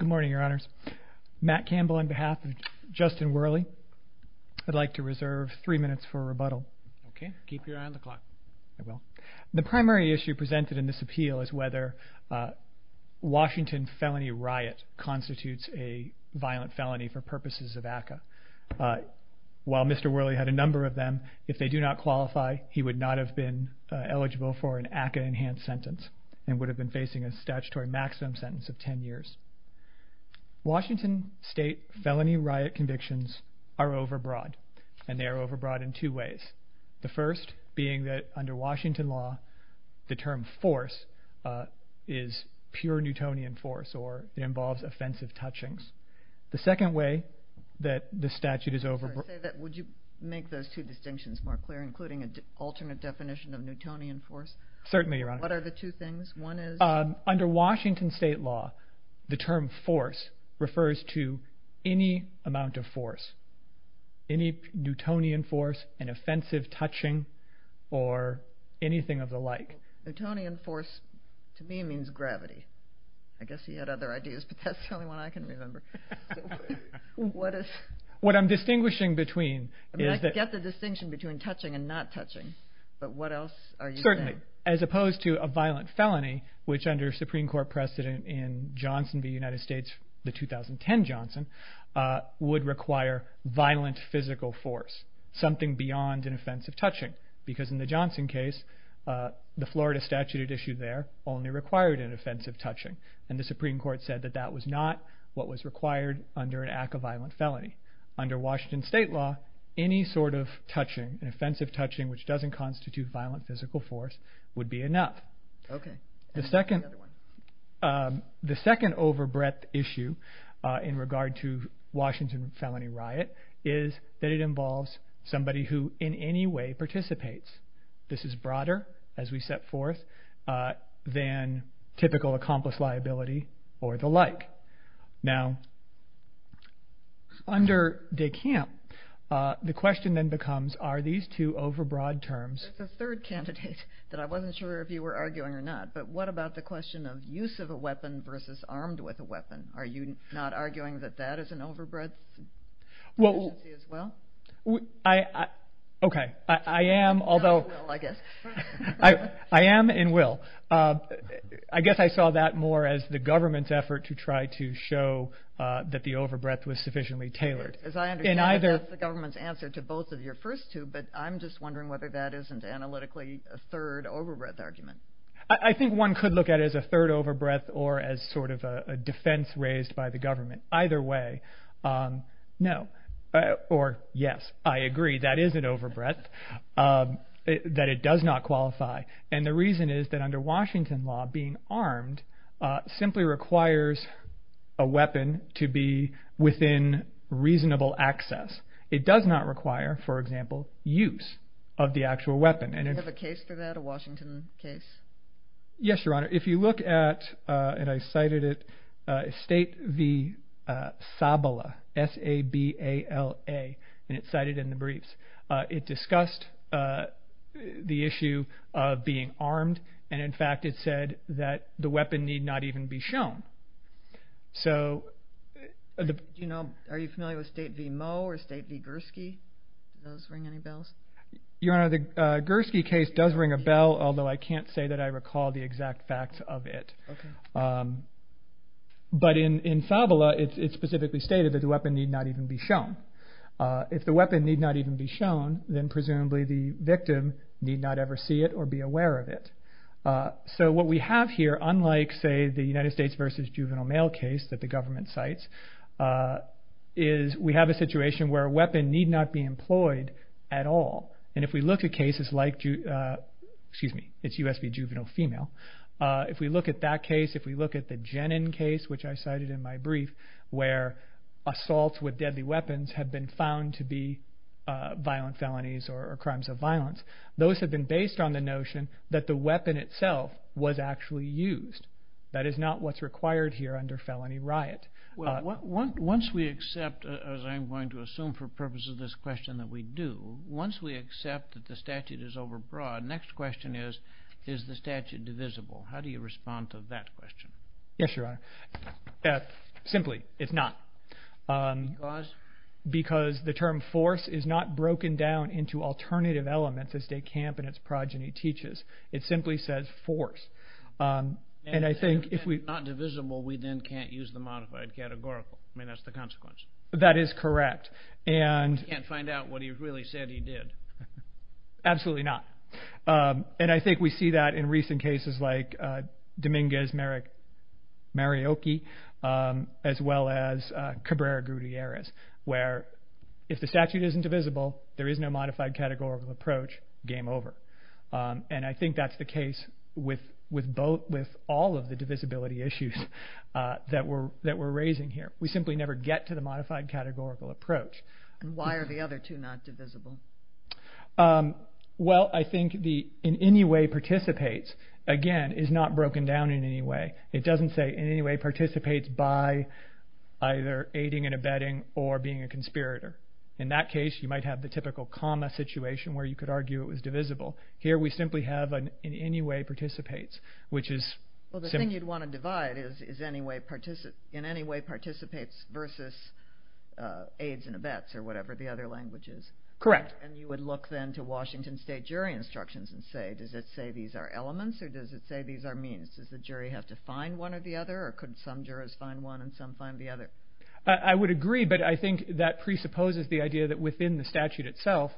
Good morning, Your Honors. Matt Campbell on behalf of Justin Werle. I'd like to reserve three minutes for rebuttal. Okay. Keep your eye on the clock. I will. The primary issue presented in this appeal is whether Washington felony riot constitutes a violent felony for purposes of ACCA. While Mr. Werle had a number of them, if they do not qualify, he would not have been eligible for an ACCA-enhanced sentence and would have been facing a statutory maximum sentence of 10 years. Washington state felony riot convictions are overbroad, and they are overbroad in two ways. The first being that under Washington law, the term force is pure Newtonian force, or it involves offensive touchings. The second way that the statute is overbroad... Would you make those two distinctions more clear, including an alternate definition of Newtonian force? Certainly, Your Honor. What are the two things? One is... Under Washington state law, the term force refers to any amount of force, any Newtonian force, an offensive touching, or anything of the like. Newtonian force, to me, means gravity. I guess he had other ideas, but that's the only one I can remember. What is... What I'm distinguishing between is that... I get the distinction between touching and not touching, but what else are you saying? Certainly, as opposed to a violent felony, which under Supreme Court precedent in Johnson v. United States, the 2010 Johnson, would require violent physical force, something beyond an offensive touching, because in the Johnson case, the Florida statute at issue there only required an offensive touching, and the Supreme Court said that that was not what was required under an ACCA violent felony. Under Washington state law, any sort of touching, an offensive touching, which doesn't constitute violent physical force, would be enough. Okay. The second... The other one. The second overbreadth issue in regard to Washington felony riot is that it involves somebody who in any way participates. This is broader, as we set forth, than typical accomplice liability or the like. Now, under De Camp, the question then becomes, are these two overbroad terms... There's a third candidate that I wasn't sure if you were arguing or not, but what about the question of use of a weapon versus armed with a weapon? Are you not arguing that that is an overbreadth agency as well? Well, I... Okay. I am, although... Not in will, I guess. I am in will. I guess I saw that more as the government's effort to try to show that the overbreadth was sufficiently tailored. As I understand it, that's the government's answer to both of your first two, but I'm just wondering whether that isn't analytically a third overbreadth argument. I think one could look at it as a third overbreadth or as sort of a defense raised by the government. Either way, no, or yes, I agree, that is an overbreadth, that it does not qualify. And the reason is that under Washington law, being armed simply requires a weapon to be within reasonable access. It does not require, for example, use of the actual weapon. Do you have a case for that, a Washington case? Yes, Your Honor. If you look at, and I cited it, State v. Sabala, S-A-B-A-L-A, and it's cited in the briefs, it discussed the issue of being armed, and in fact it said that the weapon need not even be shown. Are you familiar with State v. Moe or State v. Gursky? Do those ring any bells? Your Honor, the Gursky case does ring a bell, although I can't say that I recall the exact facts of it. But in Sabala, it specifically stated that the weapon need not even be shown. If the weapon need not even be shown, then presumably the victim need not ever see it or be aware of it. So what we have here, unlike, say, the United States v. Juvenile Male case that the government cites, is we have a situation where a weapon need not be employed at all. And if we look at cases like, excuse me, it's U.S. v. Juvenile Female, if we look at that case, if we look at the Jenin case, which I cited in my brief, where assaults with deadly weapons have been found to be violent felonies or crimes of violence, those have been based on the notion that the weapon itself was actually used. That is not what's required here under felony riot. Once we accept, as I'm going to assume for purposes of this question that we do, once we accept that the statute is overbroad, next question is, is the statute divisible? How do you respond to that question? Yes, Your Honor. Simply, it's not. Because? Because the term force is not broken down into alternative elements, as de Camp and his progeny teaches. It simply says force. And if it's not divisible, we then can't use the modified categorical. I mean, that's the consequence. That is correct. We can't find out what he really said he did. Absolutely not. And I think we see that in recent cases like Dominguez-Mariocchi, as well as Cabrera-Gutierrez, where if the statute isn't divisible, there is no modified categorical approach, game over. And I think that's the case with all of the divisibility issues that we're raising here. We simply never get to the modified categorical approach. Why are the other two not divisible? Well, I think the in any way participates, again, is not broken down in any way. It doesn't say in any way participates by either aiding and abetting or being a conspirator. In that case, you might have the typical comma situation where you could argue it was divisible. Here we simply have an in any way participates, which is simple. Well, the thing you'd want to divide is in any way participates versus aids and abets or whatever the other language is. Correct. And you would look then to Washington State jury instructions and say, does it say these are elements or does it say these are means? Does the jury have to find one or the other, or could some jurors find one and some find the other? I would agree, but I think that presupposes the idea that within the statute itself,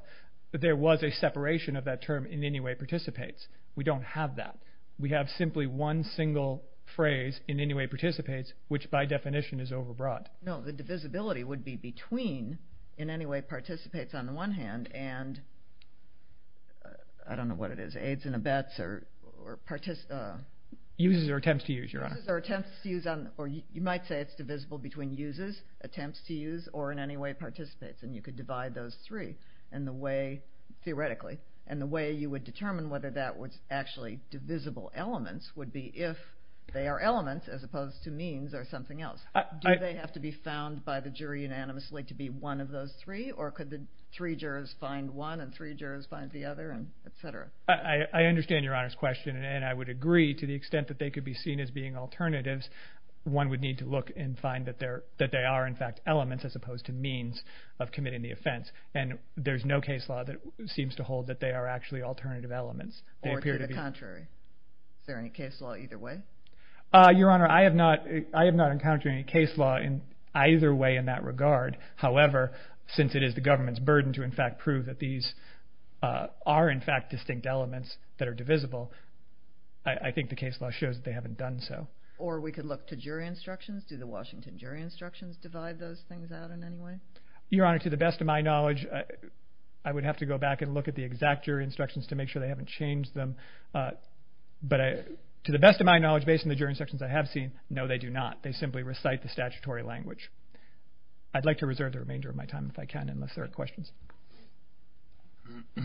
that there was a separation of that term in any way participates. We don't have that. We have simply one single phrase, in any way participates, which by definition is overbroad. No, the divisibility would be between in any way participates on the one hand and I don't know what it is. Aids and abets or participants. Uses or attempts to use, Your Honor. Uses or attempts to use. You might say it's divisible between uses, attempts to use, or in any way participates, and you could divide those three theoretically. And the way you would determine whether that was actually divisible elements would be if they are elements as opposed to means or something else. Do they have to be found by the jury unanimously to be one of those three, or could the three jurors find one and three jurors find the other, et cetera? I understand Your Honor's question, and I would agree to the extent that they could be seen as being alternatives, one would need to look and find that they are in fact elements as opposed to means of committing the offense. And there's no case law that seems to hold that they are actually alternative elements. Or to the contrary. Is there any case law either way? Your Honor, I have not encountered any case law in either way in that regard. However, since it is the government's burden to in fact prove that these are in fact distinct elements that are divisible, I think the case law shows that they haven't done so. Or we could look to jury instructions. Do the Washington jury instructions divide those things out in any way? Your Honor, to the best of my knowledge, I would have to go back and look at the exact jury instructions to make sure they haven't changed them. But to the best of my knowledge, based on the jury instructions I have seen, no, they do not. They simply recite the statutory language. I'd like to reserve the remainder of my time if I can unless there are questions. Good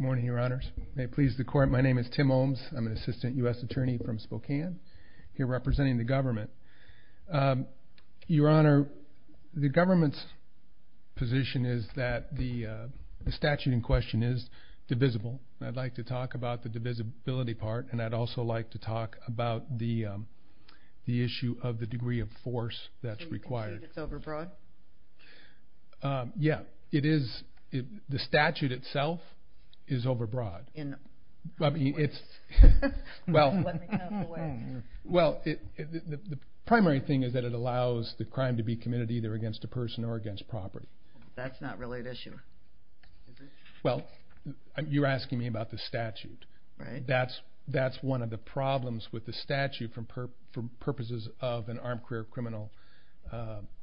morning, Your Honors. May it please the Court, my name is Tim Olms. I'm an assistant U.S. attorney from Spokane. Here representing the government. Your Honor, the government's position is that the statute in question is divisible. I'd like to talk about the divisibility part, and I'd also like to talk about the issue of the degree of force that's required. So you can say it's overbroad? Yeah. It is. The statute itself is overbroad. In what ways? Well, the primary thing is that it allows the crime to be committed either against a person or against property. That's not really an issue. Well, you're asking me about the statute. That's one of the problems with the statute for purposes of an armed career criminal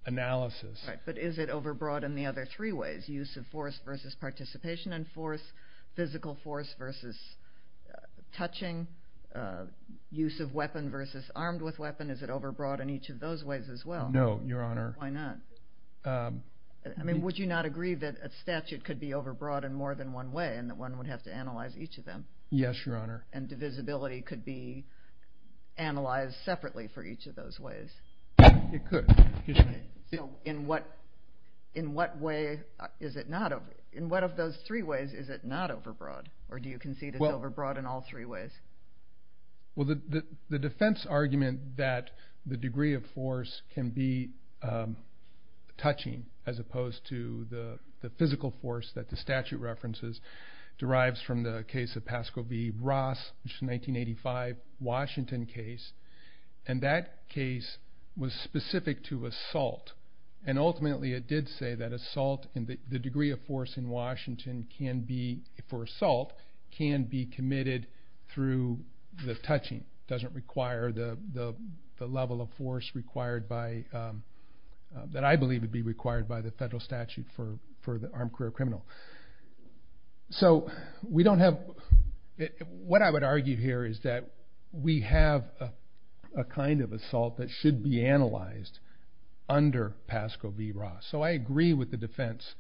analysis. But is it overbroad in the other three ways, use of force versus participation in force, physical force versus touching, use of weapon versus armed with weapon? Is it overbroad in each of those ways as well? No, Your Honor. Why not? I mean, would you not agree that a statute could be overbroad in more than one way and that one would have to analyze each of them? Yes, Your Honor. And divisibility could be analyzed separately for each of those ways? It could. So in what of those three ways is it not overbroad? Or do you concede it's overbroad in all three ways? Well, the defense argument that the degree of force can be touching as opposed to the physical force that the statute references derives from the case of Pasco v. Ross, which is a 1985 Washington case. And that case was specific to assault. And ultimately it did say that assault and the degree of force in Washington for assault can be committed through the touching. It doesn't require the level of force that I believe would be required by the federal statute for the armed career criminal. So what I would argue here is that we have a kind of assault that should be analyzed under Pasco v. Ross. So I agree with the defense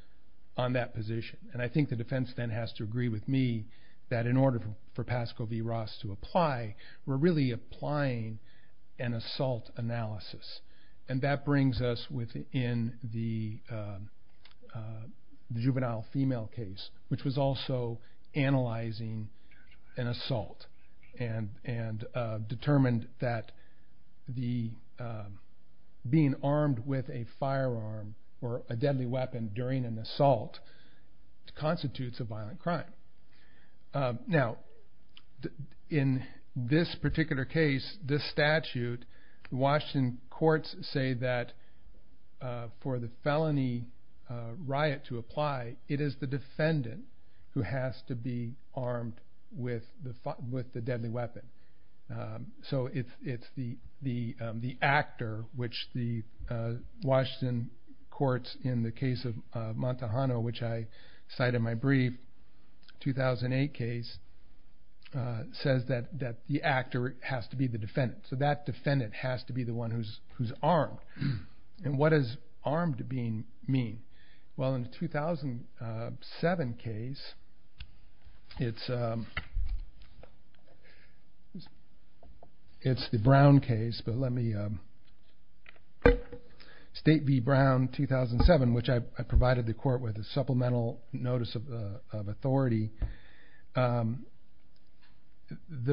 on that position. And I think the defense then has to agree with me that in order for Pasco v. Ross to apply, we're really applying an assault analysis. And that brings us within the juvenile female case, which was also analyzing an assault and determined that being armed with a firearm or a deadly weapon during an assault constitutes a violent crime. Now, in this particular case, this statute, the Washington courts say that for the felony riot to apply, it is the defendant who has to be armed with the deadly weapon. So it's the actor, which the Washington courts in the case of Montahano, which I cite in my brief 2008 case, says that the actor has to be the defendant. So that defendant has to be the one who's armed. And what does armed mean? Well, in the 2007 case, it's the Brown case. But let me state v. Brown 2007, which I provided the court with a supplemental notice of authority. The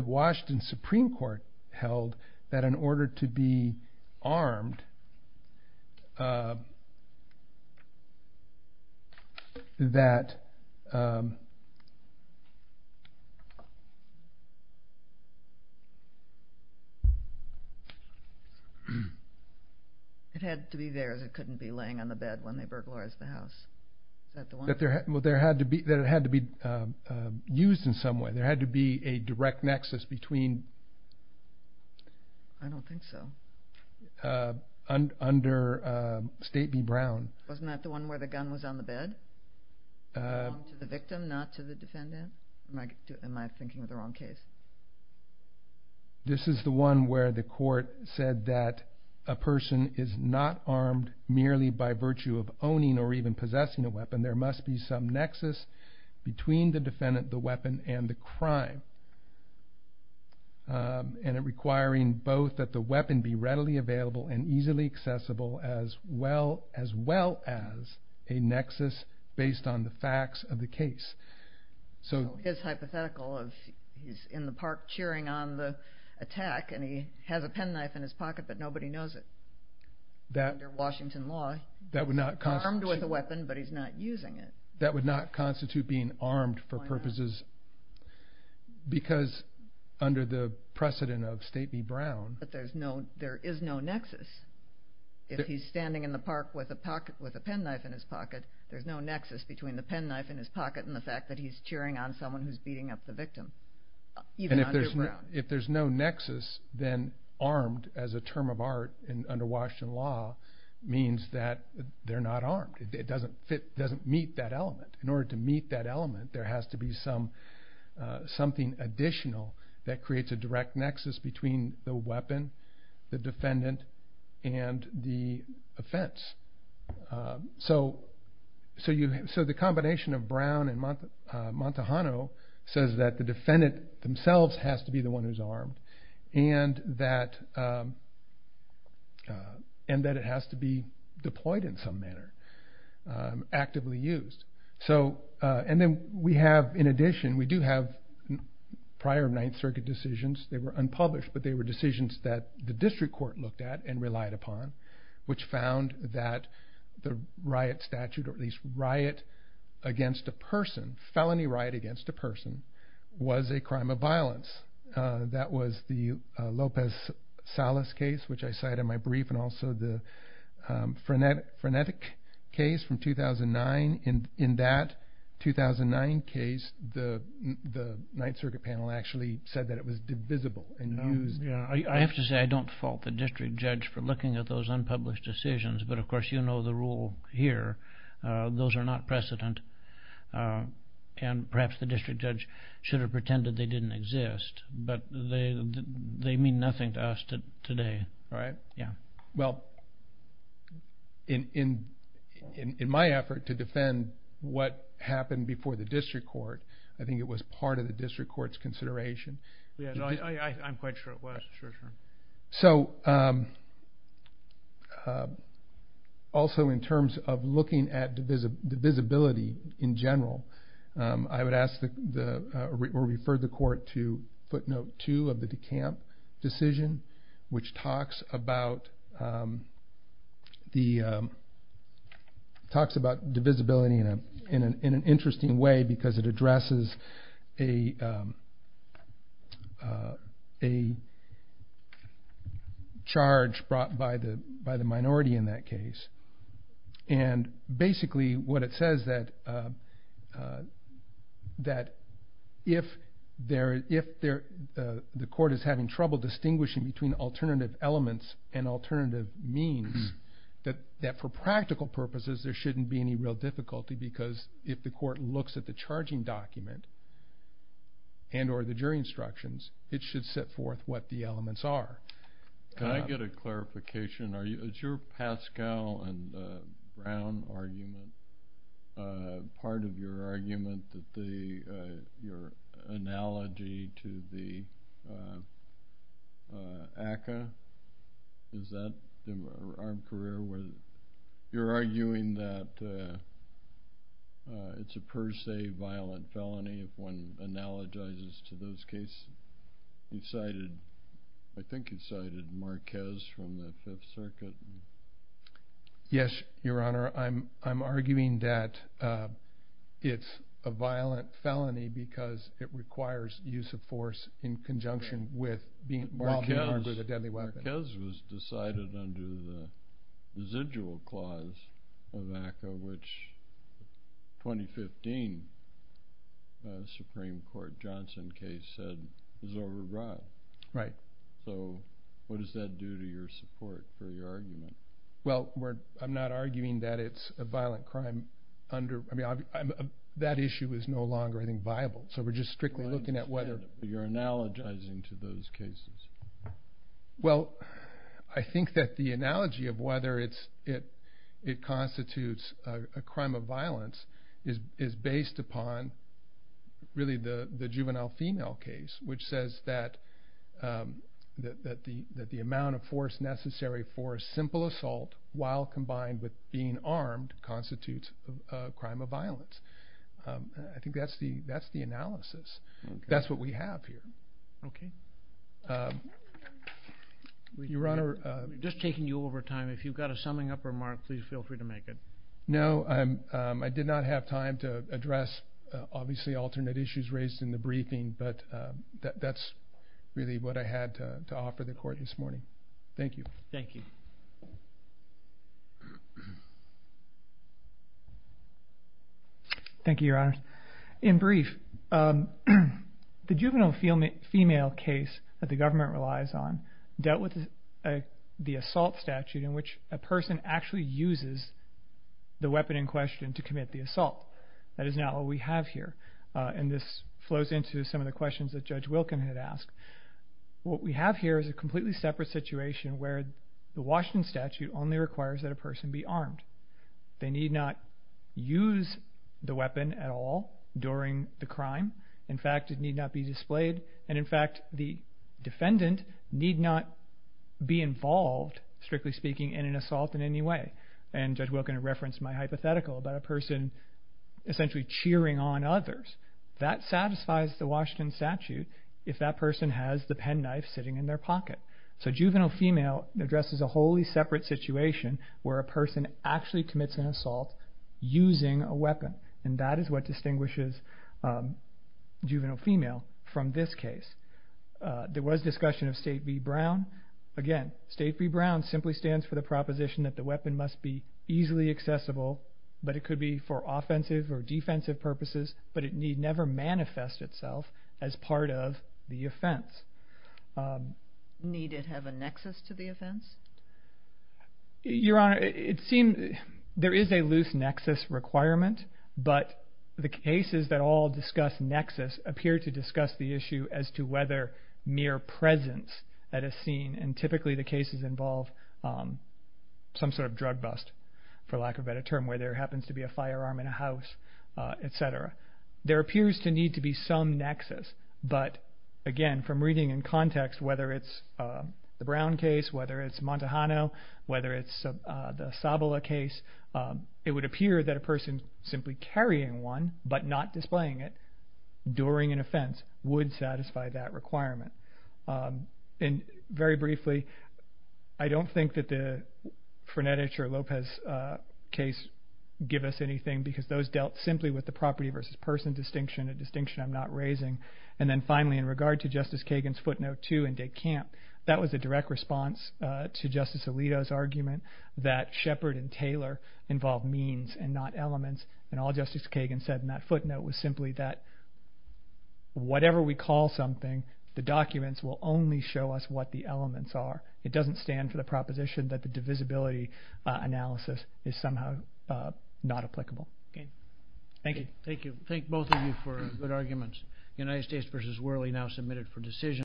Washington Supreme Court held that in order to be armed, that the one who's armed It had to be theirs. It couldn't be laying on the bed when they burglarized the house. That it had to be used in some way. There had to be a direct nexus between- I don't think so. Under state v. Brown. Wasn't that the one where the gun was on the bed? Armed to the victim, not to the defendant? Am I thinking of the wrong case? This is the one where the court said that a person is not armed merely by virtue of owning or even possessing a weapon. There must be some nexus between the defendant, the weapon, and the crime. And it requiring both that the weapon be readily available and easily accessible as well as a nexus based on the facts of the case. So it's hypothetical of he's in the park cheering on the attack and he has a penknife in his pocket but nobody knows it. Under Washington law, he's armed with a weapon but he's not using it. That would not constitute being armed for purposes- Why not? Because under the precedent of state v. Brown- But there is no nexus. If he's standing in the park with a penknife in his pocket, there's no nexus between the penknife in his pocket and the fact that he's cheering on someone who's beating up the victim. Even under Brown. If there's no nexus, then armed as a term of art under Washington law means that they're not armed. It doesn't meet that element. In order to meet that element, there has to be something additional that creates a direct nexus between the weapon, the defendant, and the offense. So the combination of Brown and Montahano says that the defendant themselves has to be the one who's armed and that it has to be deployed in some manner, actively used. In addition, we do have prior Ninth Circuit decisions. They were unpublished but they were decisions that the district court looked at and relied upon which found that the riot statute, or at least riot against a person, felony riot against a person, was a crime of violence. That was the Lopez-Salas case, which I cite in my brief, and also the Frenetic case from 2009. In that 2009 case, the Ninth Circuit panel actually said that it was divisible and used. I have to say I don't fault the district judge for looking at those unpublished decisions, but of course you know the rule here. Those are not precedent, and perhaps the district judge should have pretended they didn't exist, but they mean nothing to us today. Well, in my effort to defend what happened before the district court, I think it was part of the district court's consideration. I'm quite sure it was. Also in terms of looking at divisibility in general, I would refer the court to footnote 2 of the DeCamp decision, which talks about divisibility in an interesting way because it addresses a charge brought by the minority in that case. Basically what it says is that if the court is having trouble distinguishing between alternative elements and alternative means, that for practical purposes there shouldn't be any real difficulty because if the court looks at the charging document and or the jury instructions, it should set forth what the elements are. Can I get a clarification? Is your Pascal and Brown argument part of your argument that your analogy to the ACCA, is that the armed career? You're arguing that it's a per se violent felony if one analogizes to those cases. I think you cited Marquez from the Fifth Circuit. Yes, Your Honor. I'm arguing that it's a violent felony because it requires use of force in conjunction with being armed with a deadly weapon. Marquez was decided under the residual clause of ACCA, which the 2015 Supreme Court Johnson case said was override. Right. So what does that do to your support for your argument? Well, I'm not arguing that it's a violent crime. That issue is no longer, I think, viable. So we're just strictly looking at whether… You're analogizing to those cases. Well, I think that the analogy of whether it constitutes a crime of violence is based upon really the juvenile female case, which says that the amount of force necessary for a simple assault while combined with being armed constitutes a crime of violence. I think that's the analysis. That's what we have here. Okay. Your Honor… We're just taking you over time. If you've got a summing up remark, please feel free to make it. No, I did not have time to address, obviously, alternate issues raised in the briefing, but that's really what I had to offer the Court this morning. Thank you. Thank you. Thank you, Your Honor. In brief, the juvenile female case that the government relies on dealt with the assault statute in which a person actually uses the weapon in question to commit the assault. That is not what we have here, and this flows into some of the questions that Judge Wilken had asked. What we have here is a completely separate situation where the Washington statute only requires that a person be armed. They need not use the weapon at all during the crime. In fact, it need not be displayed. In fact, the defendant need not be involved, strictly speaking, in an assault in any way. Judge Wilken had referenced my hypothetical about a person essentially cheering on others. That satisfies the Washington statute if that person has the penknife sitting in their pocket. Juvenile female addresses a wholly separate situation where a person actually commits an assault using a weapon, and that is what distinguishes juvenile female from this case. There was discussion of State v. Brown. Again, State v. Brown simply stands for the proposition that the weapon must be easily accessible, but it could be for offensive or defensive purposes, but it need never manifest itself as part of the offense. Need it have a nexus to the offense? Your Honor, it seems there is a loose nexus requirement, but the cases that all discuss nexus appear to discuss the issue as to whether mere presence at a scene, and typically the cases involve some sort of drug bust, for lack of a better term, where there happens to be a firearm in a house, etc. There appears to need to be some nexus, but again, from reading in context, whether it's the Brown case, whether it's Montajano, whether it's the Sabala case, it would appear that a person simply carrying one but not displaying it during an offense would satisfy that requirement. Very briefly, I don't think that the Frenetich or Lopez case give us anything because those dealt simply with the property versus person distinction, a distinction I'm not raising. And then finally, in regard to Justice Kagan's footnote 2 in De Camp, that was a direct response to Justice Alito's argument that Shepard and Taylor involve means and not elements, and all Justice Kagan said in that footnote was simply that whatever we call something, the documents will only show us what the elements are. It doesn't stand for the proposition that the divisibility analysis is somehow not applicable. Thank you. Thank you. Thank both of you for good arguments.